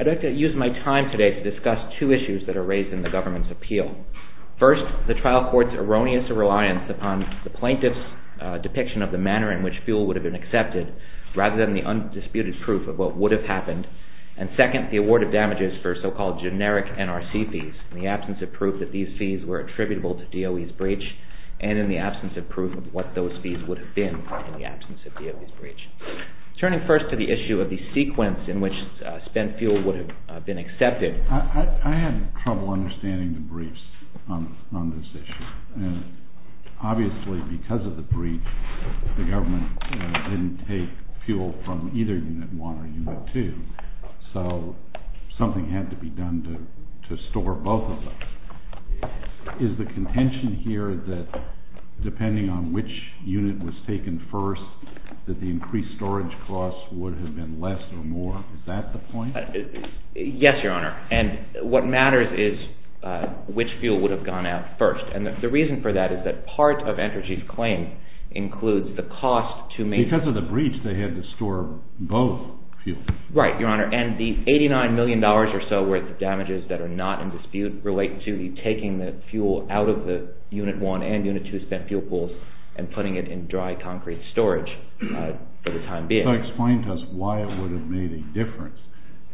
I'd like to use my time today to discuss two issues that are raised in the government's mind. First, the trial court's erroneous reliance upon the plaintiff's depiction of the manner in which fuel would have been accepted, rather than the undisputed proof of what would have happened. And second, the award of damages for so-called generic NRC fees, in the absence of proof that these fees were attributable to DOE's breach, and in the absence of proof of what those fees would have been in the absence of DOE's breach. Turning first to the issue of the sequence in which spent fuel would have been accepted. I had trouble understanding the briefs on this issue, and obviously because of the breach, the government didn't take fuel from either Unit 1 or Unit 2, so something had to be done to store both of them. Is the contention here that, depending on which unit was taken first, that the increased storage costs would have been less or more, is that the point? Yes, Your Honor. And what matters is which fuel would have gone out first. And the reason for that is that part of Entergy's claim includes the cost to make- Because of the breach, they had to store both fuels. Right, Your Honor. And the $89 million or so worth of damages that are not in dispute relate to the taking the fuel out of the Unit 1 and Unit 2 spent fuel pools, and putting it in dry concrete storage for the time being. So explain to us why it would have made a difference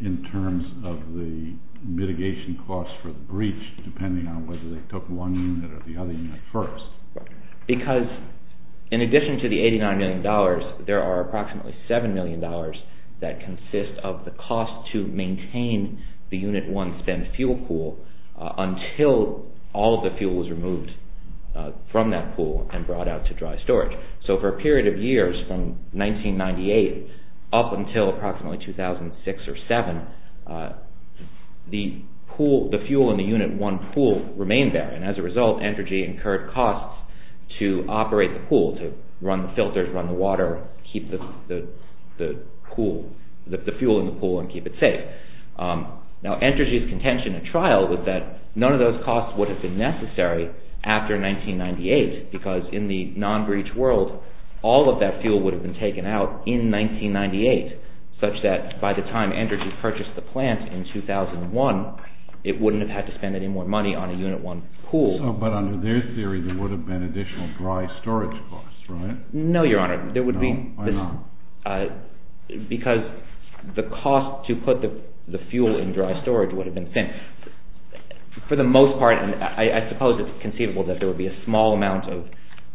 in terms of the mitigation costs for the breach, depending on whether they took one unit or the other unit first. Because in addition to the $89 million, there are approximately $7 million that consist of the cost to maintain the Unit 1 spent fuel pool until all of the fuel was removed from that pool and brought out to dry storage. So for a period of years, from 1998 up until approximately 2006 or 2007, the fuel in the Unit 1 pool remained there. And as a result, Entergy incurred costs to operate the pool, to run the filters, run the water, keep the fuel in the pool and keep it safe. Now Entergy's contention at trial was that none of those costs would have been necessary after 1998, because in the non-breach world, all of that fuel would have been taken out in 1998, such that by the time Entergy purchased the plant in 2001, it wouldn't have had to spend any more money on a Unit 1 pool. So but under their theory, there would have been additional dry storage costs, right? No, Your Honor. No, why not? Because the cost to put the fuel in dry storage would have been thin. For the most part, I suppose it's conceivable that there would be a small amount of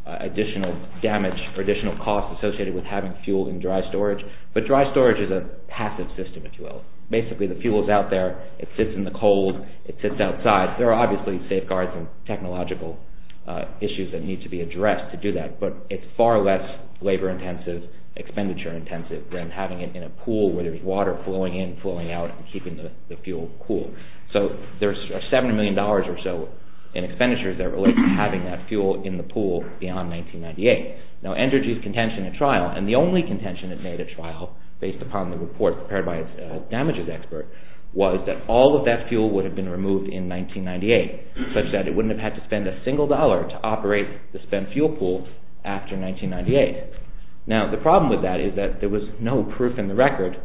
additional damage or additional costs associated with having fuel in dry storage. But dry storage is a passive system, if you will. Basically the fuel's out there, it sits in the cold, it sits outside. There are obviously safeguards and technological issues that need to be addressed to do that. But it's far less labor-intensive, expenditure-intensive than having it in a pool where there's water flowing in, flowing out, and keeping the fuel cool. So there's $70 million or so in expenditures that relate to having that fuel in the pool beyond 1998. Now Entergy's contention at trial, and the only contention at trial, based upon the report prepared by a damages expert, was that all of that fuel would have been removed in 1998, such that it wouldn't have had to spend a single dollar to operate the spent fuel pool after 1998. Now the problem with that is that there was no proof in the record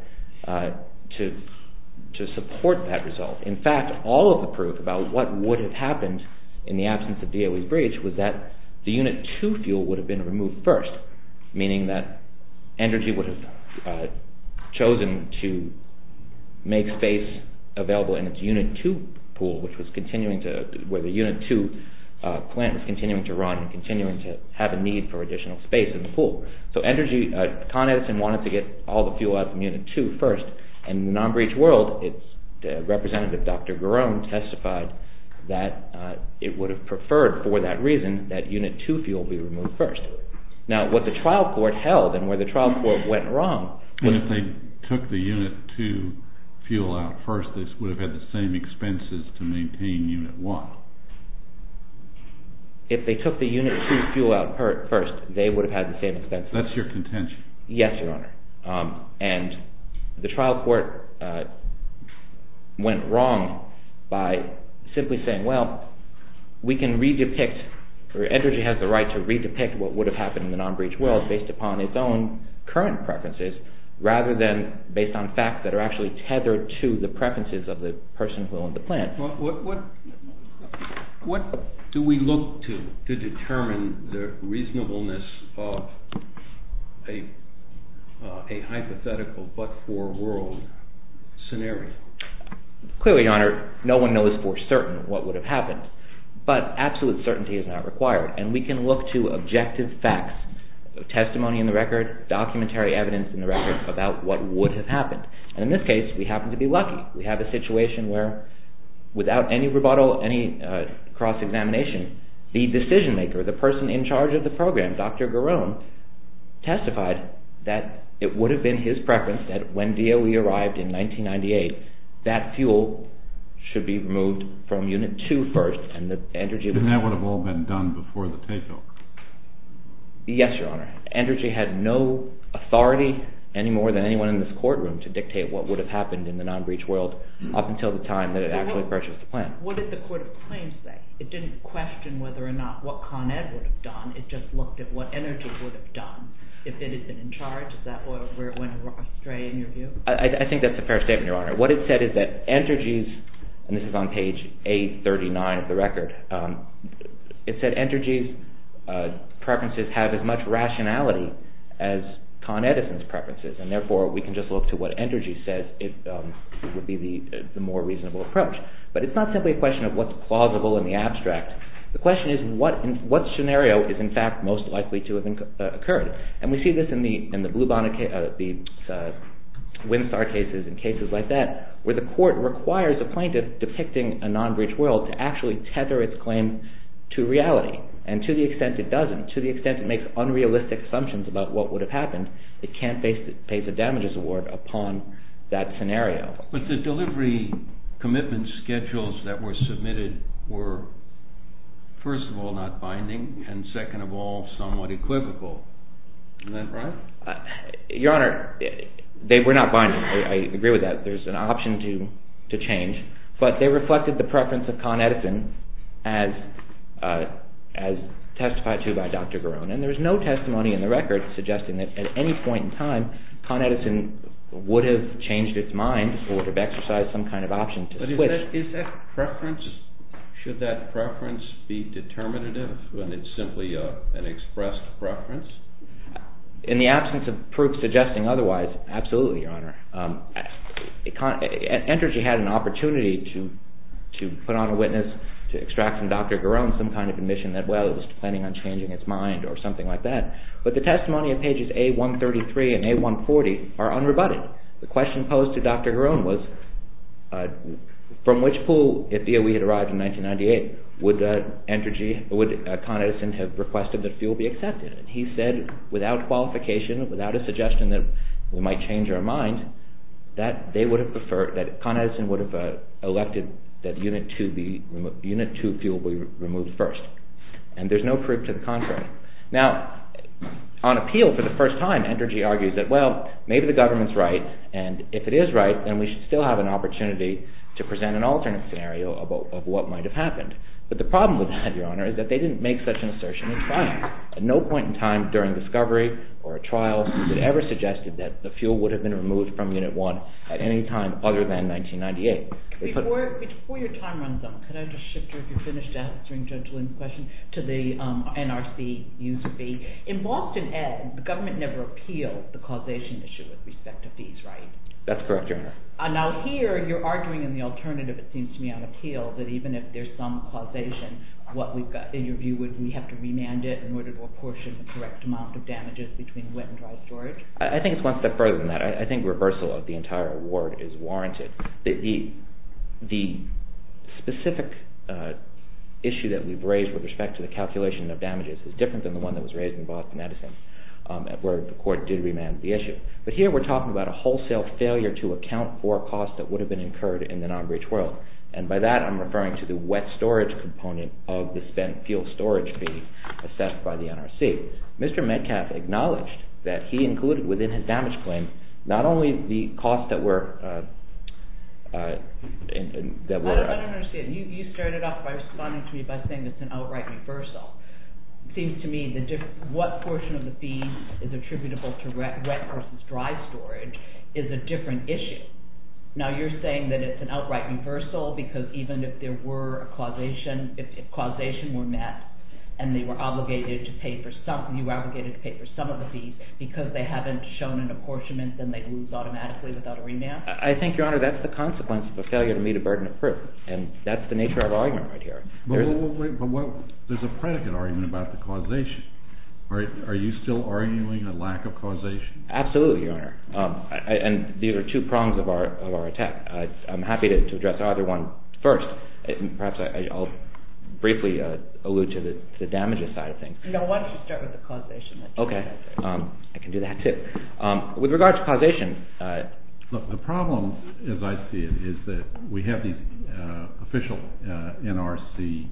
to support that result. In fact, all of the proof about what would have happened in the absence of DOE's breach was that the Unit 2 fuel would have been removed first, meaning that Entergy would have chosen to make space available in its Unit 2 pool, where the Unit 2 plant is continuing to run and continuing to have a need for additional space in the pool. So Entergy contested and wanted to get all the fuel out of Unit 2 first, and in the non-breach world, its representative, Dr. Garone, testified that it would have preferred, for that reason, that Unit 2 fuel be removed first. Now what the trial court held, and where the trial court went wrong... And if they took the Unit 2 fuel out first, they would have had the same expenses to maintain Unit 1. If they took the Unit 2 fuel out first, they would have had the same expenses. That's your contention. Yes, Your Honor. And the trial court went wrong by simply saying, well, we can redepict, or Entergy has the right to redepict what would have happened in the non-breach world based upon its own current preferences, rather than based on facts that are actually tethered to the preferences of the person who owned the plant. What do we look to to determine the reasonableness of a hypothetical but-for-world scenario? Clearly, Your Honor, no one knows for certain what would have happened, but absolute certainty is not required, and we can look to objective facts, testimony in the record, documentary evidence in the record about what would have happened. And in this case, we happen to be lucky. We have a situation where, without any rebuttal, any cross-examination, the decision-maker, the person in charge of the program, Dr. Garone, testified that it would have been his preference that when DOE arrived in 1998, that fuel should be removed from Unit 2 first, and that Entergy... And that would have all been done before the takeover. Yes, Your Honor. Entergy had no authority any more than anyone in this courtroom to dictate what would have happened in the non-breach world up until the time that it actually purchased the plant. What did the Court of Claims say? It didn't question whether or not what Con Ed would have done. It just looked at what Entergy would have done if it had been in charge. Is that where it went astray, in your view? I think that's a fair statement, Your Honor. What it said is that Entergy's, and this is on page 839 of the record, it said Entergy's preferences have as much rationality as Con Edison's preferences, and therefore we can just look to what Entergy says would be the more reasonable approach. But it's not simply a question of what's plausible in the abstract. The question is what scenario is, in fact, most likely to have occurred. And we see this in the Blue Bond, the Windstar cases and cases like that, where the court requires a plaintiff depicting a non-breach world to actually tether its claim to reality. And to the extent it doesn't, to the extent it makes unrealistic assumptions about what would have happened, it can't face a damages award upon that scenario. But the delivery commitment schedules that were submitted were, first of all, not binding, and second of all, somewhat equivocal. Isn't that right? Your Honor, they were not binding. I agree with that. There's an option to change. But they reflected the preference of Con Edison as testified to by Dr. Garone. And there's no testimony in the record suggesting that at any point in time, Con Edison would have changed its mind or would have exercised some kind of option to switch. But is that preference, should that preference be determinative when it's simply an expressed preference? In the absence of proof suggesting otherwise, absolutely, Your Honor. Entergy had an opportunity to put on a witness to extract from Dr. Garone some kind of admission that, well, it was planning on changing its mind or something like that. But the testimony in pages A133 and A140 are unrebutted. The question posed to Dr. Garone was, from which pool, if DOE had arrived in 1998, would Con Edison have requested that fuel be accepted? He said, without qualification, without a suggestion that we might change our mind, that Con Edison would have elected that Unit 2 fuel be removed first. And there's no proof to the contrary. Now, on appeal for the first time, Entergy argues that, well, maybe the government's right. And if it is right, then we should still have an opportunity to present an alternate scenario of what might have happened. But the problem with that, Your Honor, is that they didn't make such an assertion in trial. At no point in time, during discovery or a trial, they ever suggested that the fuel would have been removed from Unit 1 at any time other than 1998. Before your time runs out, can I just shift here, if you're finished answering Judge Lynn's question, to the NRC use of fee? In Boston Ed, the government never appealed the causation issue with respect to fees, right? That's correct, Your Honor. Now, here, you're arguing in the alternative, it seems to me, on appeal, that even if there's some causation, what we've got, in your view, would we have to remand it in order to apportion the correct amount of damages between wet and dry storage? I think it's one step further than that. I think reversal of the entire award is warranted. The specific issue that we've raised with respect to the calculation of damages is different than the one that was raised in Boston Edison, where the court did remand the issue. But here, we're talking about a wholesale failure to account for a cost that would have been incurred in the non-breach world. And by that, I'm referring to the wet storage component of the spent fuel storage fee assessed by the NRC. Mr. Metcalfe acknowledged that he included within his damage claim not only the cost that were… I don't understand. You started off by responding to me by saying it's an outright reversal. It seems to me that what portion of the fee is attributable to wet versus dry storage is a different issue. Now, you're saying that it's an outright reversal because even if causation were met and you were obligated to pay for some of the fees because they haven't shown an apportionment, then they lose automatically without a remand? I think, Your Honor, that's the consequence of a failure to meet a burden of proof. And that's the nature of the argument right here. But there's a predicate argument about the causation. Are you still arguing a lack of causation? Absolutely, Your Honor. And these are two prongs of our attack. I'm happy to address either one first. Perhaps I'll briefly allude to the damages side of things. Why don't you start with the causation? Okay. I can do that too. With regard to causation… The problem, as I see it, is that we have these official NRC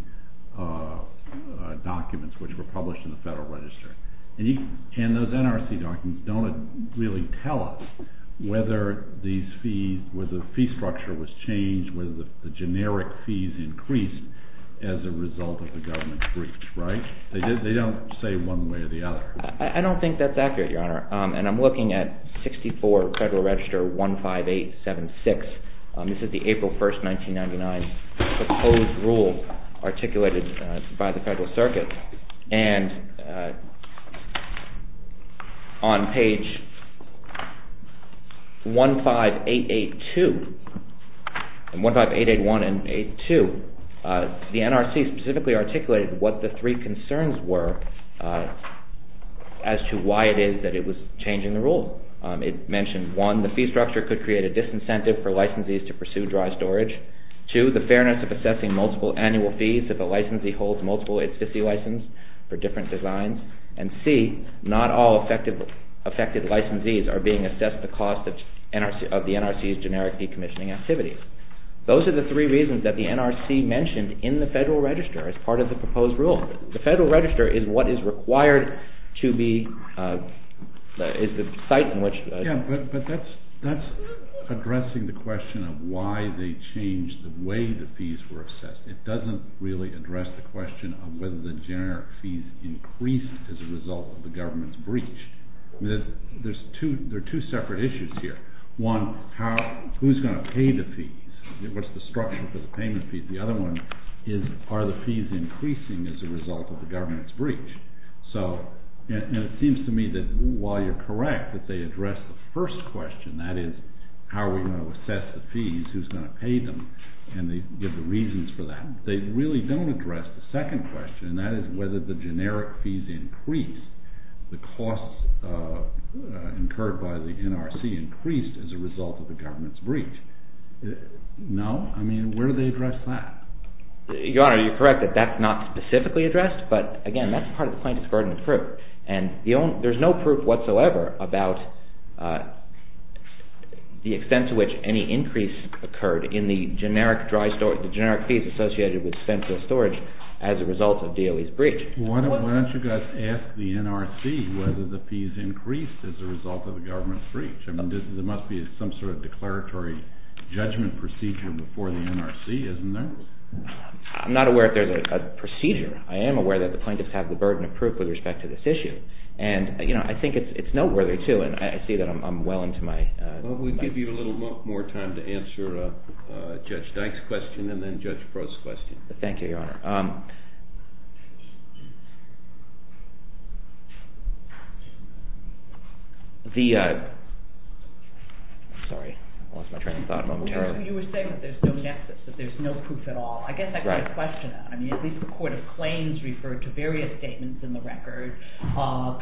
documents which were published in the Federal Register. And those NRC documents don't really tell us whether the fee structure was changed, whether the generic fees increased as a result of the government's briefs, right? They don't say one way or the other. I don't think that's accurate, Your Honor. And I'm looking at 64 Federal Register 15876. This is the April 1, 1999 proposed rule articulated by the Federal Circuit. And on page 15881 and 15882, the NRC specifically articulated what the three concerns were as to why it is that it was changing the rule. It mentioned, one, the fee structure could create a disincentive for licensees to pursue dry storage. Two, the fairness of assessing multiple annual fees if a licensee holds multiple ICCI licenses for different designs. And C, not all affected licensees are being assessed the cost of the NRC's generic decommissioning activities. Those are the three reasons that the NRC mentioned in the Federal Register as part of the proposed rule. The Federal Register is what is required to be – is the site in which… It doesn't really address the question of whether the generic fees increase as a result of the government's briefs. There are two separate issues here. One, who's going to pay the fees? What's the structure for the payment fee? The other one is are the fees increasing as a result of the government's briefs? And it seems to me that while you're correct that they address the first question, that is, how are we going to assess the fees? Who's going to pay them? And they give the reasons for that. They really don't address the second question, and that is whether the generic fees increase. The costs incurred by the NRC increased as a result of the government's briefs. No? I mean, where do they address that? Your Honor, you're correct that that's not specifically addressed, but again, that's part of the plaintiff's burden of proof. And there's no proof whatsoever about the extent to which any increase occurred in the generic fees associated with dispensable storage as a result of DOE's briefs. Why don't you guys ask the NRC whether the fees increased as a result of the government's briefs? I mean, there must be some sort of declaratory judgment procedure before the NRC, isn't there? I'm not aware that there's a procedure. I am aware that the plaintiffs have the burden of proof with respect to this issue. And, you know, I think it's noteworthy, too, and I see that I'm well into my— Well, we'll give you a little more time to answer Judge Dyke's question and then Judge Proulx's question. Thank you, Your Honor. The—sorry, I lost my train of thought momentarily. You were saying that there's no nexus, that there's no proof at all. I guess I've got a question, though. I mean, at least the Court of Claims referred to various statements in the record,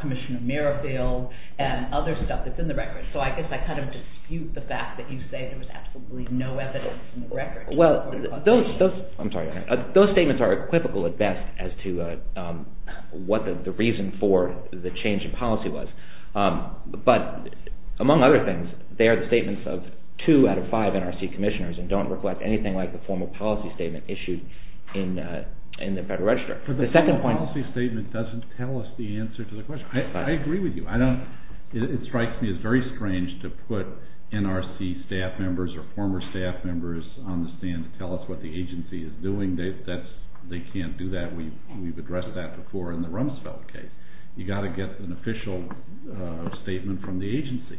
Commissioner Merrifield and other stuff that's in the record. So I guess I kind of dispute the fact that you say there was absolutely no evidence in the record. Well, those—I'm sorry, Your Honor. Those statements are equivocal at best as to what the reason for the change in policy was. But among other things, they are the statements of two out of five NRC commissioners and don't reflect anything like the formal policy statement issued in the Federal Register. The second point— But the formal policy statement doesn't tell us the answer to the question. I agree with you. I don't—it strikes me as very strange to put NRC staff members or former staff members on the stand to tell us what the agency is doing. They can't do that. We've addressed that before in the Rumsfeld case. You've got to get an official statement from the agency.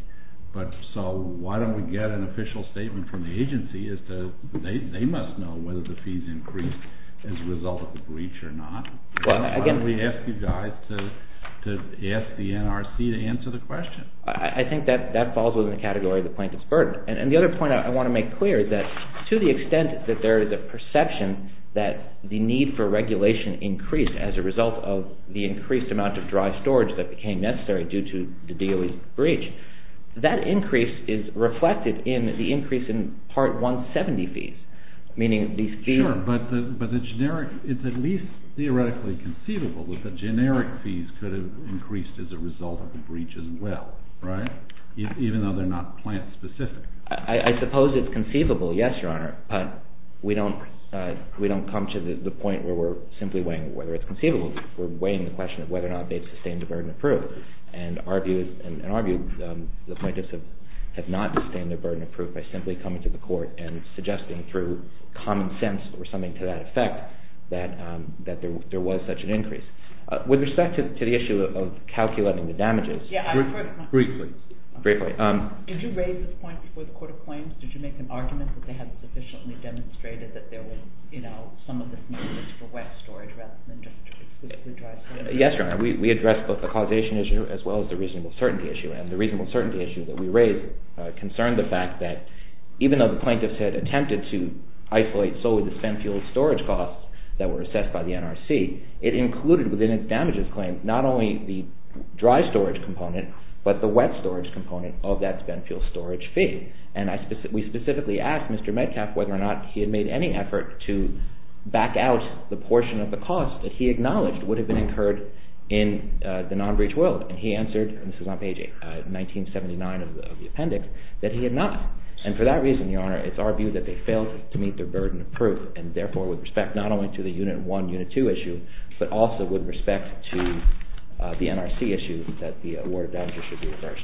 So why don't we get an official statement from the agency as to—they must know whether the fees increased as a result of the breach or not. Why don't we ask you guys to ask the NRC to answer the question? I think that falls within the category of the plaintiff's burden. And the other point I want to make clear is that to the extent that there is a perception that the need for regulation increased as a result of the increased amount of dry storage that became necessary due to the DOE's breach, that increase is reflected in the increase in Part 170 fees, meaning these fees— Sure, but the generic—it's at least theoretically conceivable that the generic fees could have increased as a result of the breach as well, right, even though they're not plant-specific. I suppose it's conceivable, yes, Your Honor. We don't come to the point where we're simply weighing whether it's conceivable. We're weighing the question of whether or not they've sustained a burden of proof. And in our view, the plaintiffs have not sustained a burden of proof by simply coming to the court and suggesting through common sense or something to that effect that there was such an increase. With respect to the issue of calculating the damages— Briefly. Briefly. Did you raise this point before the Court of Claims? Did you make an argument that they had sufficiently demonstrated that there was, you know, some of this need for wet storage rather than just the dry storage? Yes, Your Honor. We addressed both the causation issue as well as the reasonable certainty issue. And the reasonable certainty issue that we raised concerned the fact that even though the plaintiffs had attempted to isolate solely the spent fuel storage costs that were assessed by the NRC, it included within its damages claim not only the dry storage component but the wet storage component of that spent fuel storage fee. And we specifically asked Mr. Metcalf whether or not he had made any effort to back out the portion of the cost that he acknowledged would have been incurred in the non-breach will. And he answered—this is on page 1979 of the appendix—that he had not. And for that reason, Your Honor, it's our view that they failed to meet their burden of proof. And therefore, with respect not only to the Unit 1, Unit 2 issue, but also with respect to the NRC issue, that the award of damages should be reversed.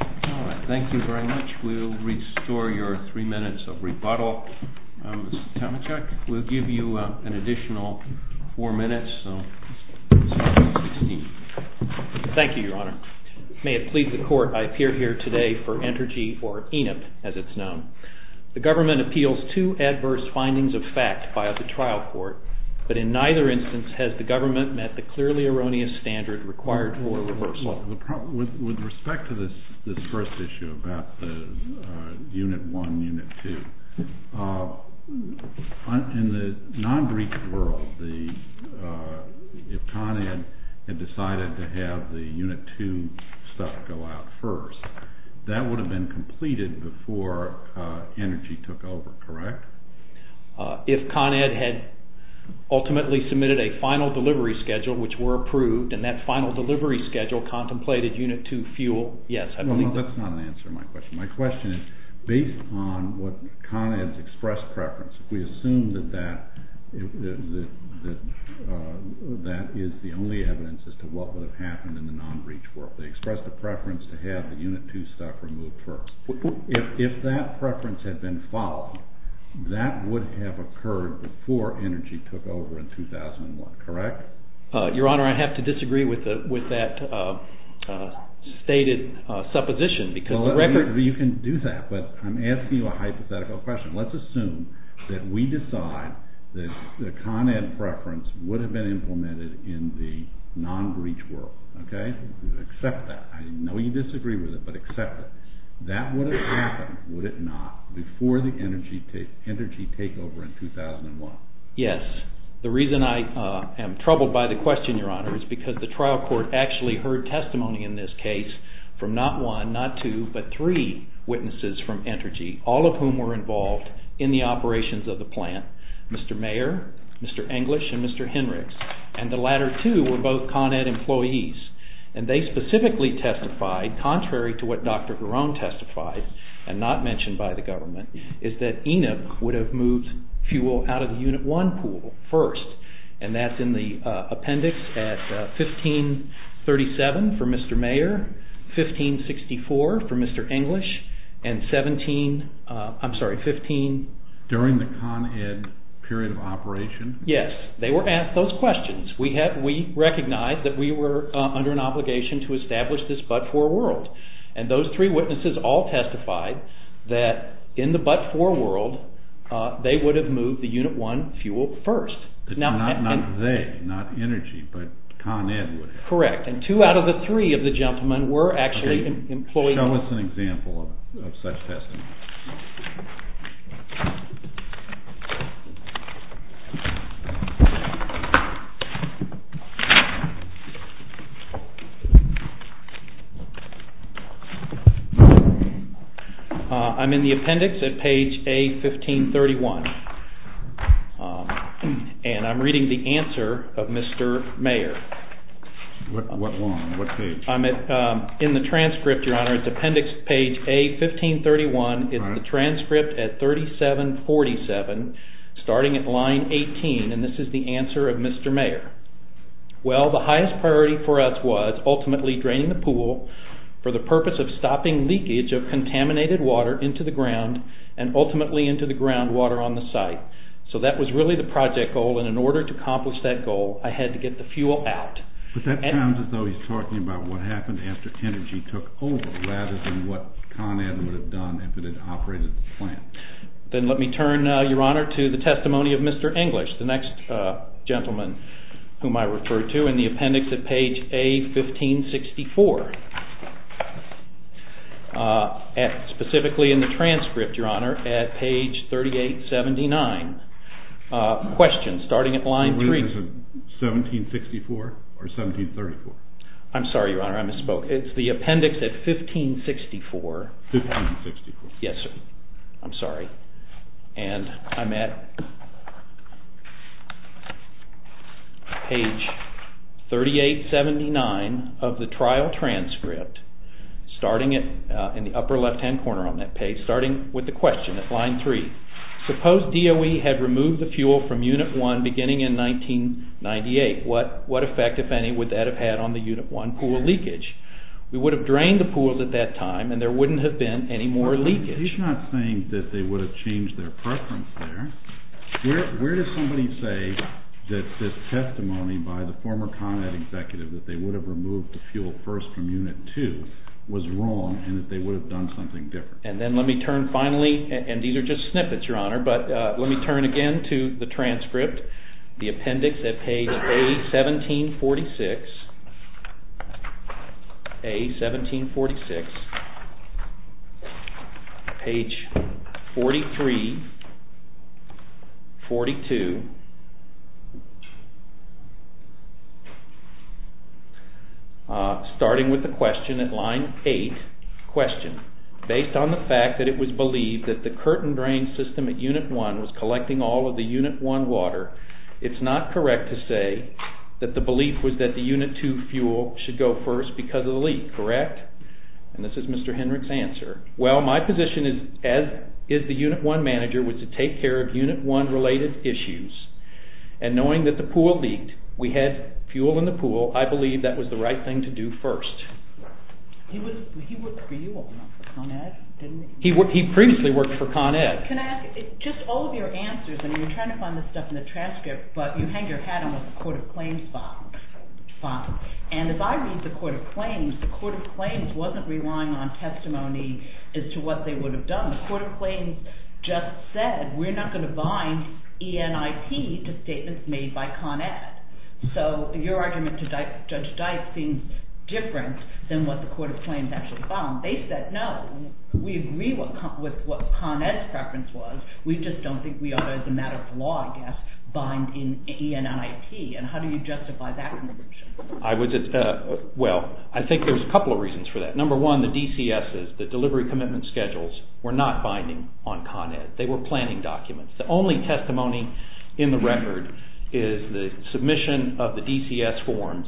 All right. Thank you very much. We'll restore your three minutes of rebuttal. Mr. Tomachek, we'll give you an additional four minutes. Thank you, Your Honor. May it please the Court, I appear here today for Entergy or ENIP as it's known. The government appeals two adverse findings of fact by the trial court, but in neither instance has the government met the clearly erroneous standard required for a reversal. With respect to this first issue about the Unit 1, Unit 2, in the non-breach world, if Connie had decided to have the Unit 2 stuff go out first, that would have been completed before ENERGY took over, correct? If Con Ed had ultimately submitted a final delivery schedule, which were approved, and that final delivery schedule contemplated Unit 2 fuel, yes. No, no, that's not an answer to my question. My question is, based on what Con Ed's expressed preference, we assume that that is the only evidence as to what would have happened in the non-breach world. They expressed a preference to have the Unit 2 stuff removed first. If that preference had been followed, that would have occurred before ENERGY took over in 2001, correct? Your Honor, I'd have to disagree with that stated supposition. You can do that, but I'm asking you a hypothetical question. Let's assume that we decide that the Con Ed preference would have been implemented in the non-breach world. Accept that. I know you disagree with it, but accept it. That would have happened, would it not, before the ENERGY takeover in 2001? Yes. The reason I am troubled by the question, Your Honor, is because the trial court actually heard testimony in this case from not one, not two, but three witnesses from ENERGY, all of whom were involved in the operations of the plant, Mr. Mayer, Mr. English, and Mr. Henrichs. And the latter two were both Con Ed employees. And they specifically testified, contrary to what Dr. Garone testified, and not mentioned by the government, is that ENEP would have moved fuel out of the Unit 1 pool first. And that's in the appendix at 1537 for Mr. Mayer, 1564 for Mr. English, and 17... I'm sorry, 15... And period of operation? Yes. They were asked those questions. We recognized that we were under an obligation to establish this but-for world. And those three witnesses all testified that in the but-for world they would have moved the Unit 1 fuel first. Not they, not ENERGY, but Con Ed would have. Correct. And two out of the three of the gentlemen were actually employees... Tell us an example of such testimony. I'm in the appendix at page A, 1531, and I'm reading the answer of Mr. Mayer. I'm in the transcript, Your Honor. It's appendix page A, 1531. It's the transcript at 3747, starting at line 18, and this is the answer of Mr. Mayer. Well, the highest priority for us was ultimately draining the pool for the purpose of stopping leakage of contaminated water into the ground and ultimately into the groundwater on the site. So that was really the project goal, and in order to accomplish that goal I had to get the fuel out. But that sounds as though he's talking about what happened after ENERGY took over rather than what Con Ed would have done if it had operated the plant. Then let me turn, Your Honor, to the testimony of Mr. English, the next gentleman whom I refer to in the appendix at page A, 1564, specifically in the transcript, Your Honor, at page 3879. Question starting at line 3. 1764 or 1734? I'm sorry, Your Honor, I misspoke. It's the appendix at 1564. 1564. Yes, sir. I'm sorry. And I'm at page 3879 of the trial transcript, starting in the upper left-hand corner on that page, starting with the question at line 3. Suppose DOE had removed the fuel from Unit 1 beginning in 1998. What effect, if any, would that have had on the Unit 1 pool leakage? We would have drained the pools at that time and there wouldn't have been any more leakage. He's not saying that they would have changed their preference there. Where does somebody say that this testimony by the former Con Ed executive that they would have removed the fuel first from Unit 2 was wrong and that they would have done something different? And then let me turn, finally, and these are just snippets, Your Honor, but let me turn again to the transcript, the appendix at page A, 1746, page 43, 42, starting with the question at line 8. Question. Based on the fact that it was believed that the curtain drain system at Unit 1 was collecting all of the Unit 1 water, it's not correct to say that the belief was that the Unit 2 fuel should go first because of the leak, correct? And this is Mr. Hendrick's answer. Well, my position is, as is the Unit 1 manager, was to take care of Unit 1-related issues. And knowing that the pool leaked, we had fuel in the pool, I believe that was the right thing to do first. He worked for you all along for Con Ed, didn't he? He previously worked for Con Ed. Can I ask, just all of your answers, and you're trying to find this stuff in the transcript, but you hang your hat on what the Court of Claims thought. And as I read the Court of Claims, the Court of Claims wasn't relying on testimony as to what they would have done. The Court of Claims just said, we're not going to bind ENIP to statements made by Con Ed. So your argument to Judge Dyke seems different than what the Court of Claims actually found. They said, no, we agree with what Con Ed's preference was, we just don't think we ought to, as a matter of law, I guess, bind ENIP. And how do you justify that contribution? Well, I think there's a couple of reasons for that. Number one, the DCSs, the Delivery Commitment Schedules, were not binding on Con Ed. They were planning documents. The only testimony in the record is the submission of the DCS forms,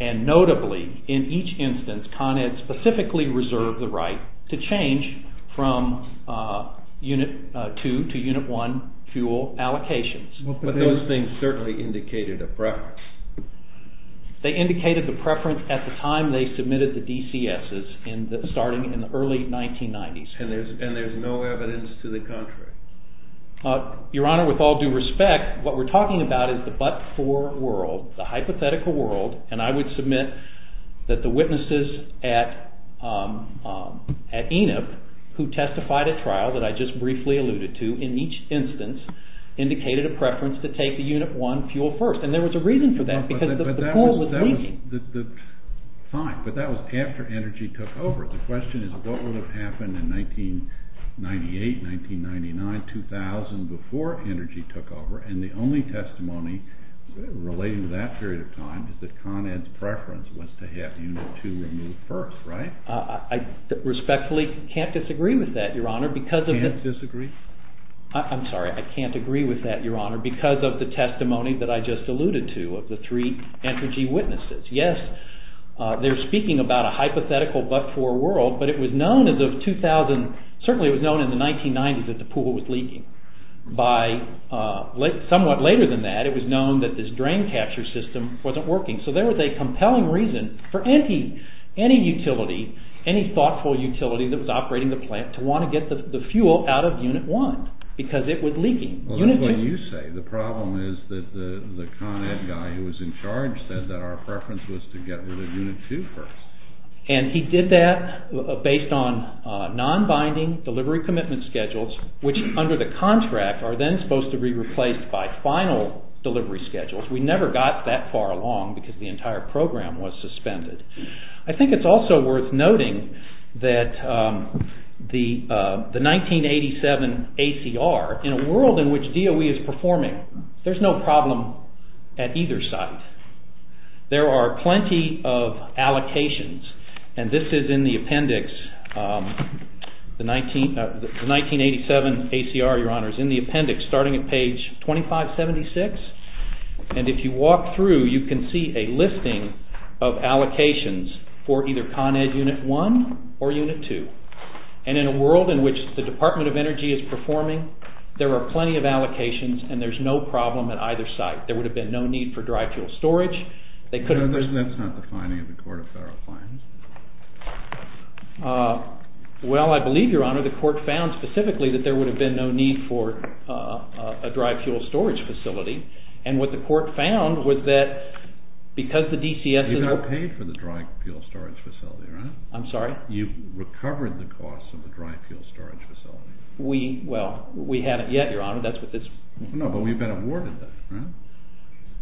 and notably, in each instance, Con Ed specifically reserved the right to change from Unit 2 to Unit 1 fuel allocations. But those things certainly indicated a preference. They indicated the preference at the time they submitted the DCSs, starting in the early 1990s. And there's no evidence to the contrary? Your Honor, with all due respect, what we're talking about is the but-for world, the hypothetical world, and I would submit that the witnesses at ENIP, who testified at trial that I just briefly alluded to, in each instance indicated a preference to take the Unit 1 fuel first. And there was a reason for that, because the Court was leading. Fine, but that was after energy took over. The question is what would have happened in 1998, 1999, 2000, before energy took over, and the only testimony relating to that period of time is that Con Ed's preference was to have Unit 2 removed first, right? I respectfully can't disagree with that, Your Honor, because of the— Can't disagree? I'm sorry, I can't agree with that, Your Honor, because of the testimony that I just alluded to of the three energy witnesses. Yes, they're speaking about a hypothetical but-for world, but it was known as of 2000—certainly it was known in the 1990s that the pool was leaking. By somewhat later than that, it was known that this drain capture system wasn't working. So there was a compelling reason for any utility, any thoughtful utility that was operating the plant to want to get the fuel out of Unit 1, because it was leaking. Well, that's what you say. The problem is that the Con Ed guy who was in charge said that our preference was to get rid of Unit 2 first. And he did that based on non-binding delivery commitment schedules, which under the contract are then supposed to be replaced by final delivery schedules. We never got that far along because the entire program was suspended. I think it's also worth noting that the 1987 ACR, in a world in which DOE is performing, there's no problem at either side. There are plenty of allocations, and this is in the appendix. The 1987 ACR, Your Honor, is in the appendix starting at page 2576. And if you walk through, you can see a listing of allocations for either Con Ed Unit 1 or Unit 2. And in a world in which the Department of Energy is performing, there are plenty of allocations, and there's no problem at either side. There would have been no need for dry fuel storage. That's not the finding of the Court of Federal Claims. Well, I believe, Your Honor, the Court found specifically that there would have been no need for a dry fuel storage facility. And what the Court found was that because the DCS is— You got paid for the dry fuel storage facility, right? I'm sorry? You recovered the costs of the dry fuel storage facility. Well, we haven't yet, Your Honor. That's what this— No, but we've been awarded that, right?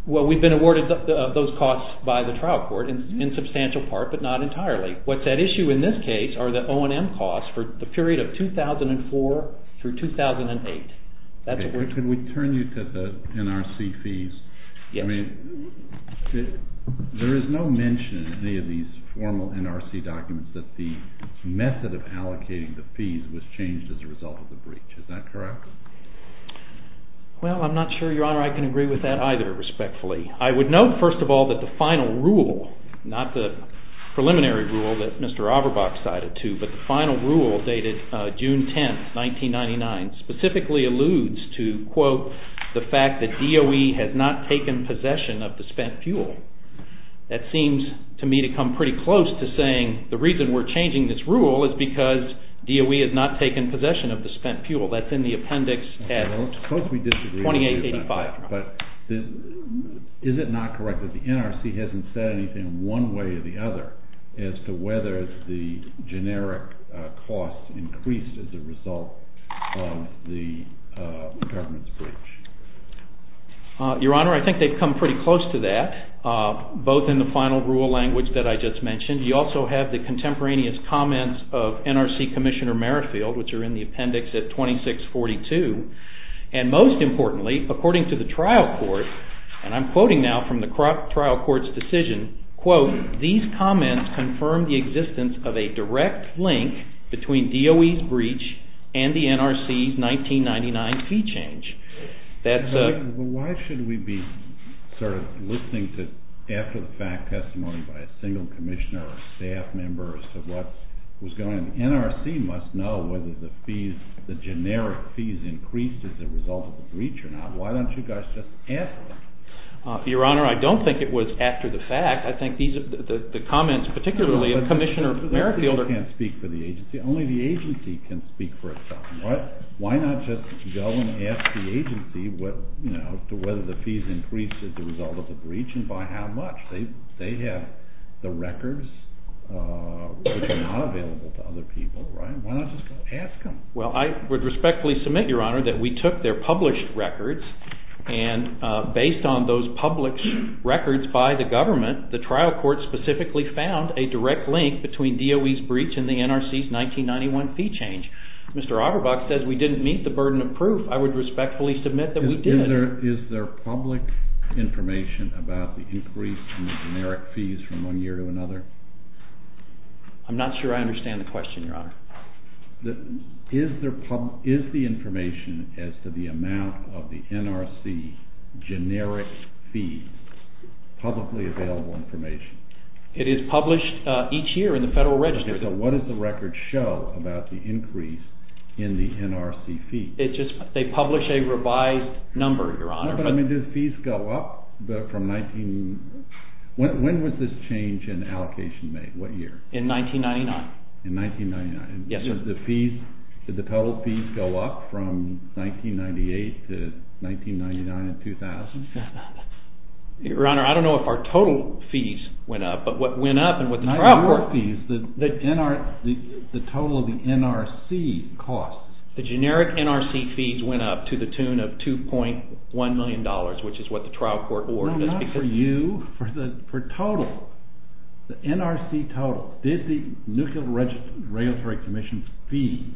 Well, we've been awarded those costs by the trial court in substantial part, but not entirely. What's at issue in this case are the O&M costs for the period of 2004 through 2008. Could we turn you to the NRC fees? Yes. There is no mention in any of these formal NRC documents that the method of allocating the fees was changed as a result of the breach. Is that correct? Well, I'm not sure, Your Honor, I can agree with that either, respectfully. I would note, first of all, that the final rule, not the preliminary rule that Mr. Auerbach cited to, but the final rule dated June 10, 1999, specifically alludes to, quote, the fact that DOE has not taken possession of the spent fuel. That seems to me to come pretty close to saying the reason we're changing this rule is because DOE has not taken possession of the spent fuel. That's in the appendix 2885. But is it not correct that the NRC hasn't said anything one way or the other as to whether the generic costs increased as a result of the government's breach? Your Honor, I think they've come pretty close to that, both in the final rule language that I just mentioned. You also have the contemporaneous comments of NRC Commissioner Merrifield, which are in the appendix at 2642. And most importantly, according to the trial court, and I'm quoting now from the trial court's decision, quote, these comments confirm the existence of a direct link between DOE's breach and the NRC's 1999 fee change. Why should we be sort of listening to after-the-fact testimony by a single commissioner or staff member as to what was going on? The NRC must know whether the generic fees increased as a result of the breach or not. Why don't you guys just answer that? Your Honor, I don't think it was after-the-fact. I think the comments, particularly of Commissioner Merrifield are— No, but the NRC can't speak for the agency. Only the agency can speak for itself. Why not just go and ask the agency whether the fees increased as a result of the breach and by how much? They have the records, which are not available to other people. Why not just ask them? Well, I would respectfully submit, Your Honor, that we took their published records and based on those published records by the government, the trial court specifically found a direct link between DOE's breach and the NRC's 1991 fee change. Mr. Auerbach says we didn't meet the burden of proof. I would respectfully submit that we did. Is there public information about the increase in generic fees from one year to another? I'm not sure I understand the question, Your Honor. Is the information as to the amount of the NRC generic fees publicly available information? It is published each year in the Federal Register. Okay, so what does the record show about the increase in the NRC fees? They publish a revised number, Your Honor. No, but I mean, did fees go up from 19—when was this change in allocation made? What year? In 1999. In 1999. Yes. Did the total fees go up from 1998 to 1999 and 2000? Your Honor, I don't know if our total fees went up, but what went up and what the trial court— Not your fees, the total of the NRC costs. The generic NRC fees went up to the tune of $2.1 million, which is what the trial court ordered. No, not for you, for total. The NRC total—did the Nuclear Regulatory Commission's fees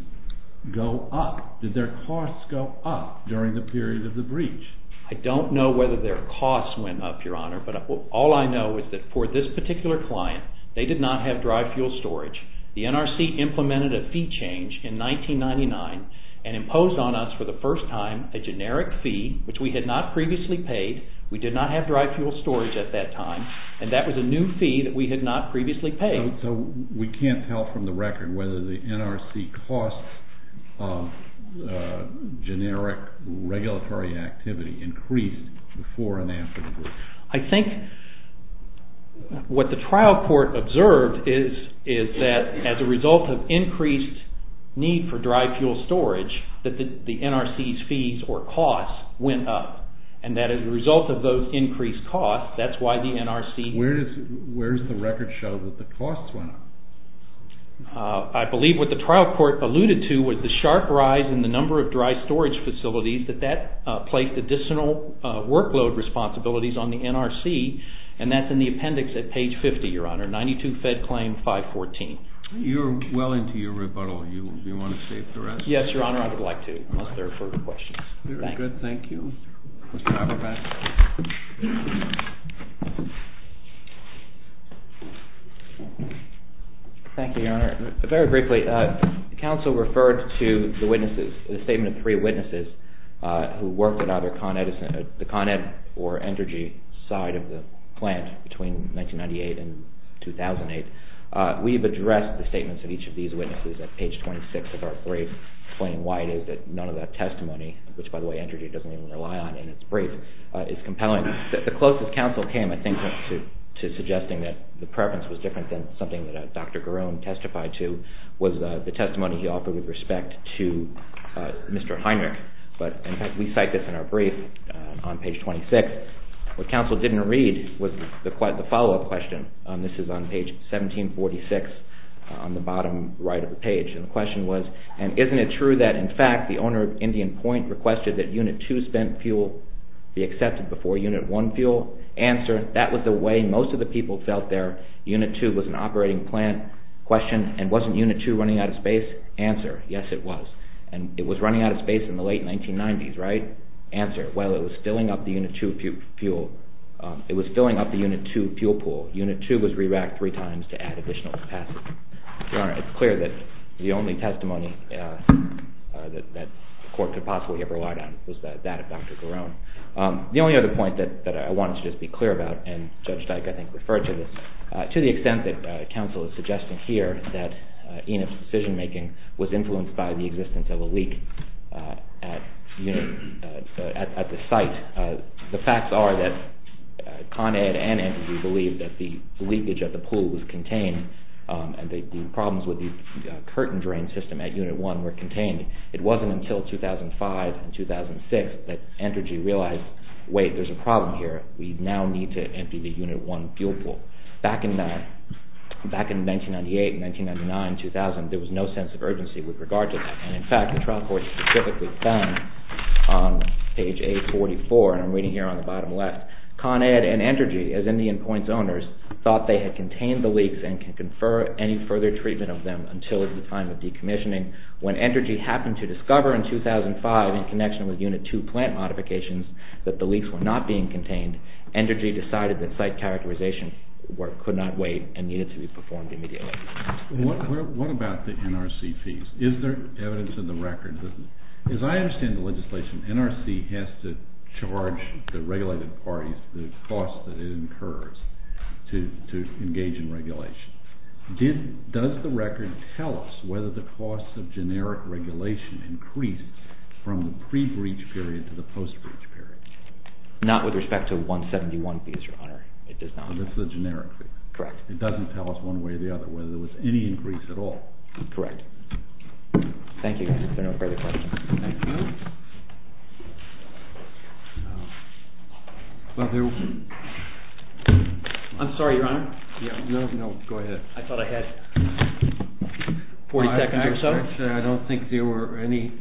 go up? Did their costs go up during the period of the breach? I don't know whether their costs went up, Your Honor, but all I know is that for this particular client, they did not have dry fuel storage. The NRC implemented a fee change in 1999 and imposed on us for the first time a generic fee, which we had not previously paid. We did not have dry fuel storage at that time, and that was a new fee that we had not previously paid. So we can't tell from the record whether the NRC costs of generic regulatory activity increased before and after the breach? I think what the trial court observed is that as a result of increased need for dry fuel storage, that the NRC's fees or costs went up, and that as a result of those increased costs, that's why the NRC— Where does the record show that the costs went up? I believe what the trial court alluded to was the sharp rise in the number of dry storage facilities, that that placed additional workload responsibilities on the NRC, and that's in the appendix at page 50, Your Honor, 92 Fed Claim 514. You're well into your rebuttal. Do you want to save the rest? Yes, Your Honor, I would like to, unless there are further questions. Very good. Thank you. Mr. Averbach. Thank you, Your Honor. Very briefly, the counsel referred to the witnesses, the statement of three witnesses, who worked at either the Con Ed or Energi side of the plant between 1998 and 2008. We've addressed the statements of each of these witnesses at page 26 of our brief, explaining why it is that none of that testimony, which, by the way, Energi doesn't even rely on in its brief, is compelling. The closest counsel came, I think, to suggesting that the preference was different than something that Dr. Garone testified to, was the testimony he offered with respect to Mr. Heinrich, but in fact, we cite this in our brief on page 26. What counsel didn't read was the follow-up question. This is on page 1746 on the bottom right of the page, and the question was, and isn't it true that, in fact, the owner of Indian Point requested that Unit 2 spent fuel be accepted before Unit 1 fuel? Answer, that was the way most of the people felt their Unit 2 was an operating plant. Question, and wasn't Unit 2 running out of space? Answer, yes, it was, and it was running out of space in the late 1990s, right? Answer, well, it was filling up the Unit 2 fuel pool. Unit 2 was re-racked three times to add additional capacity. Your Honor, it's clear that the only testimony that the court could possibly have relied on was that of Dr. Garone. The only other point that I wanted to just be clear about, and Judge Dyke, I think, referred to this, to the extent that counsel is suggesting here that Enid's decision-making was influenced by the existence of a leak at the site. The facts are that Con Ed and Entergy believed that the leakage at the pool was contained, and the problems with the curtain drain system at Unit 1 were contained. It wasn't until 2005 and 2006 that Entergy realized, wait, there's a problem here. We now need to empty the Unit 1 fuel pool. Back in 1998, 1999, 2000, there was no sense of urgency with regard to that, and, in fact, the trial court specifically found on page 844, and I'm reading here on the bottom left, Con Ed and Entergy, as Indian Point's owners, thought they had contained the leaks and could confer any further treatment of them until it was the time of decommissioning. When Entergy happened to discover in 2005, in connection with Unit 2 plant modifications, that the leaks were not being contained, Entergy decided that site characterization work could not wait and needed to be performed immediately. What about the NRC fees? Is there evidence in the record? As I understand the legislation, NRC has to charge the regulated parties the cost that it incurs to engage in regulation. Does the record tell us whether the cost of generic regulation increased from the pre-breach period to the post-breach period? Not with respect to 171 fees, Your Honor. So this is a generic fee. Correct. It doesn't tell us one way or the other whether there was any increase at all. Correct. Thank you, Your Honor. Is there no further questions? Thank you. I'm sorry, Your Honor. No, no, go ahead. I thought I had 40 seconds or so. I don't think there were any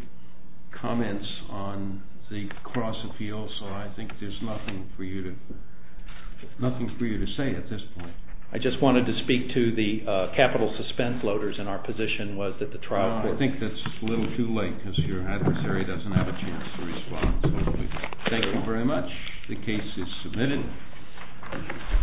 comments on the cross-appeal, so I think there's nothing for you to say at this point. I just wanted to speak to the capital suspense loaders in our position was that the trial court... I think that's a little too late because your adversary doesn't have a chance to respond. Thank you very much. The case is submitted.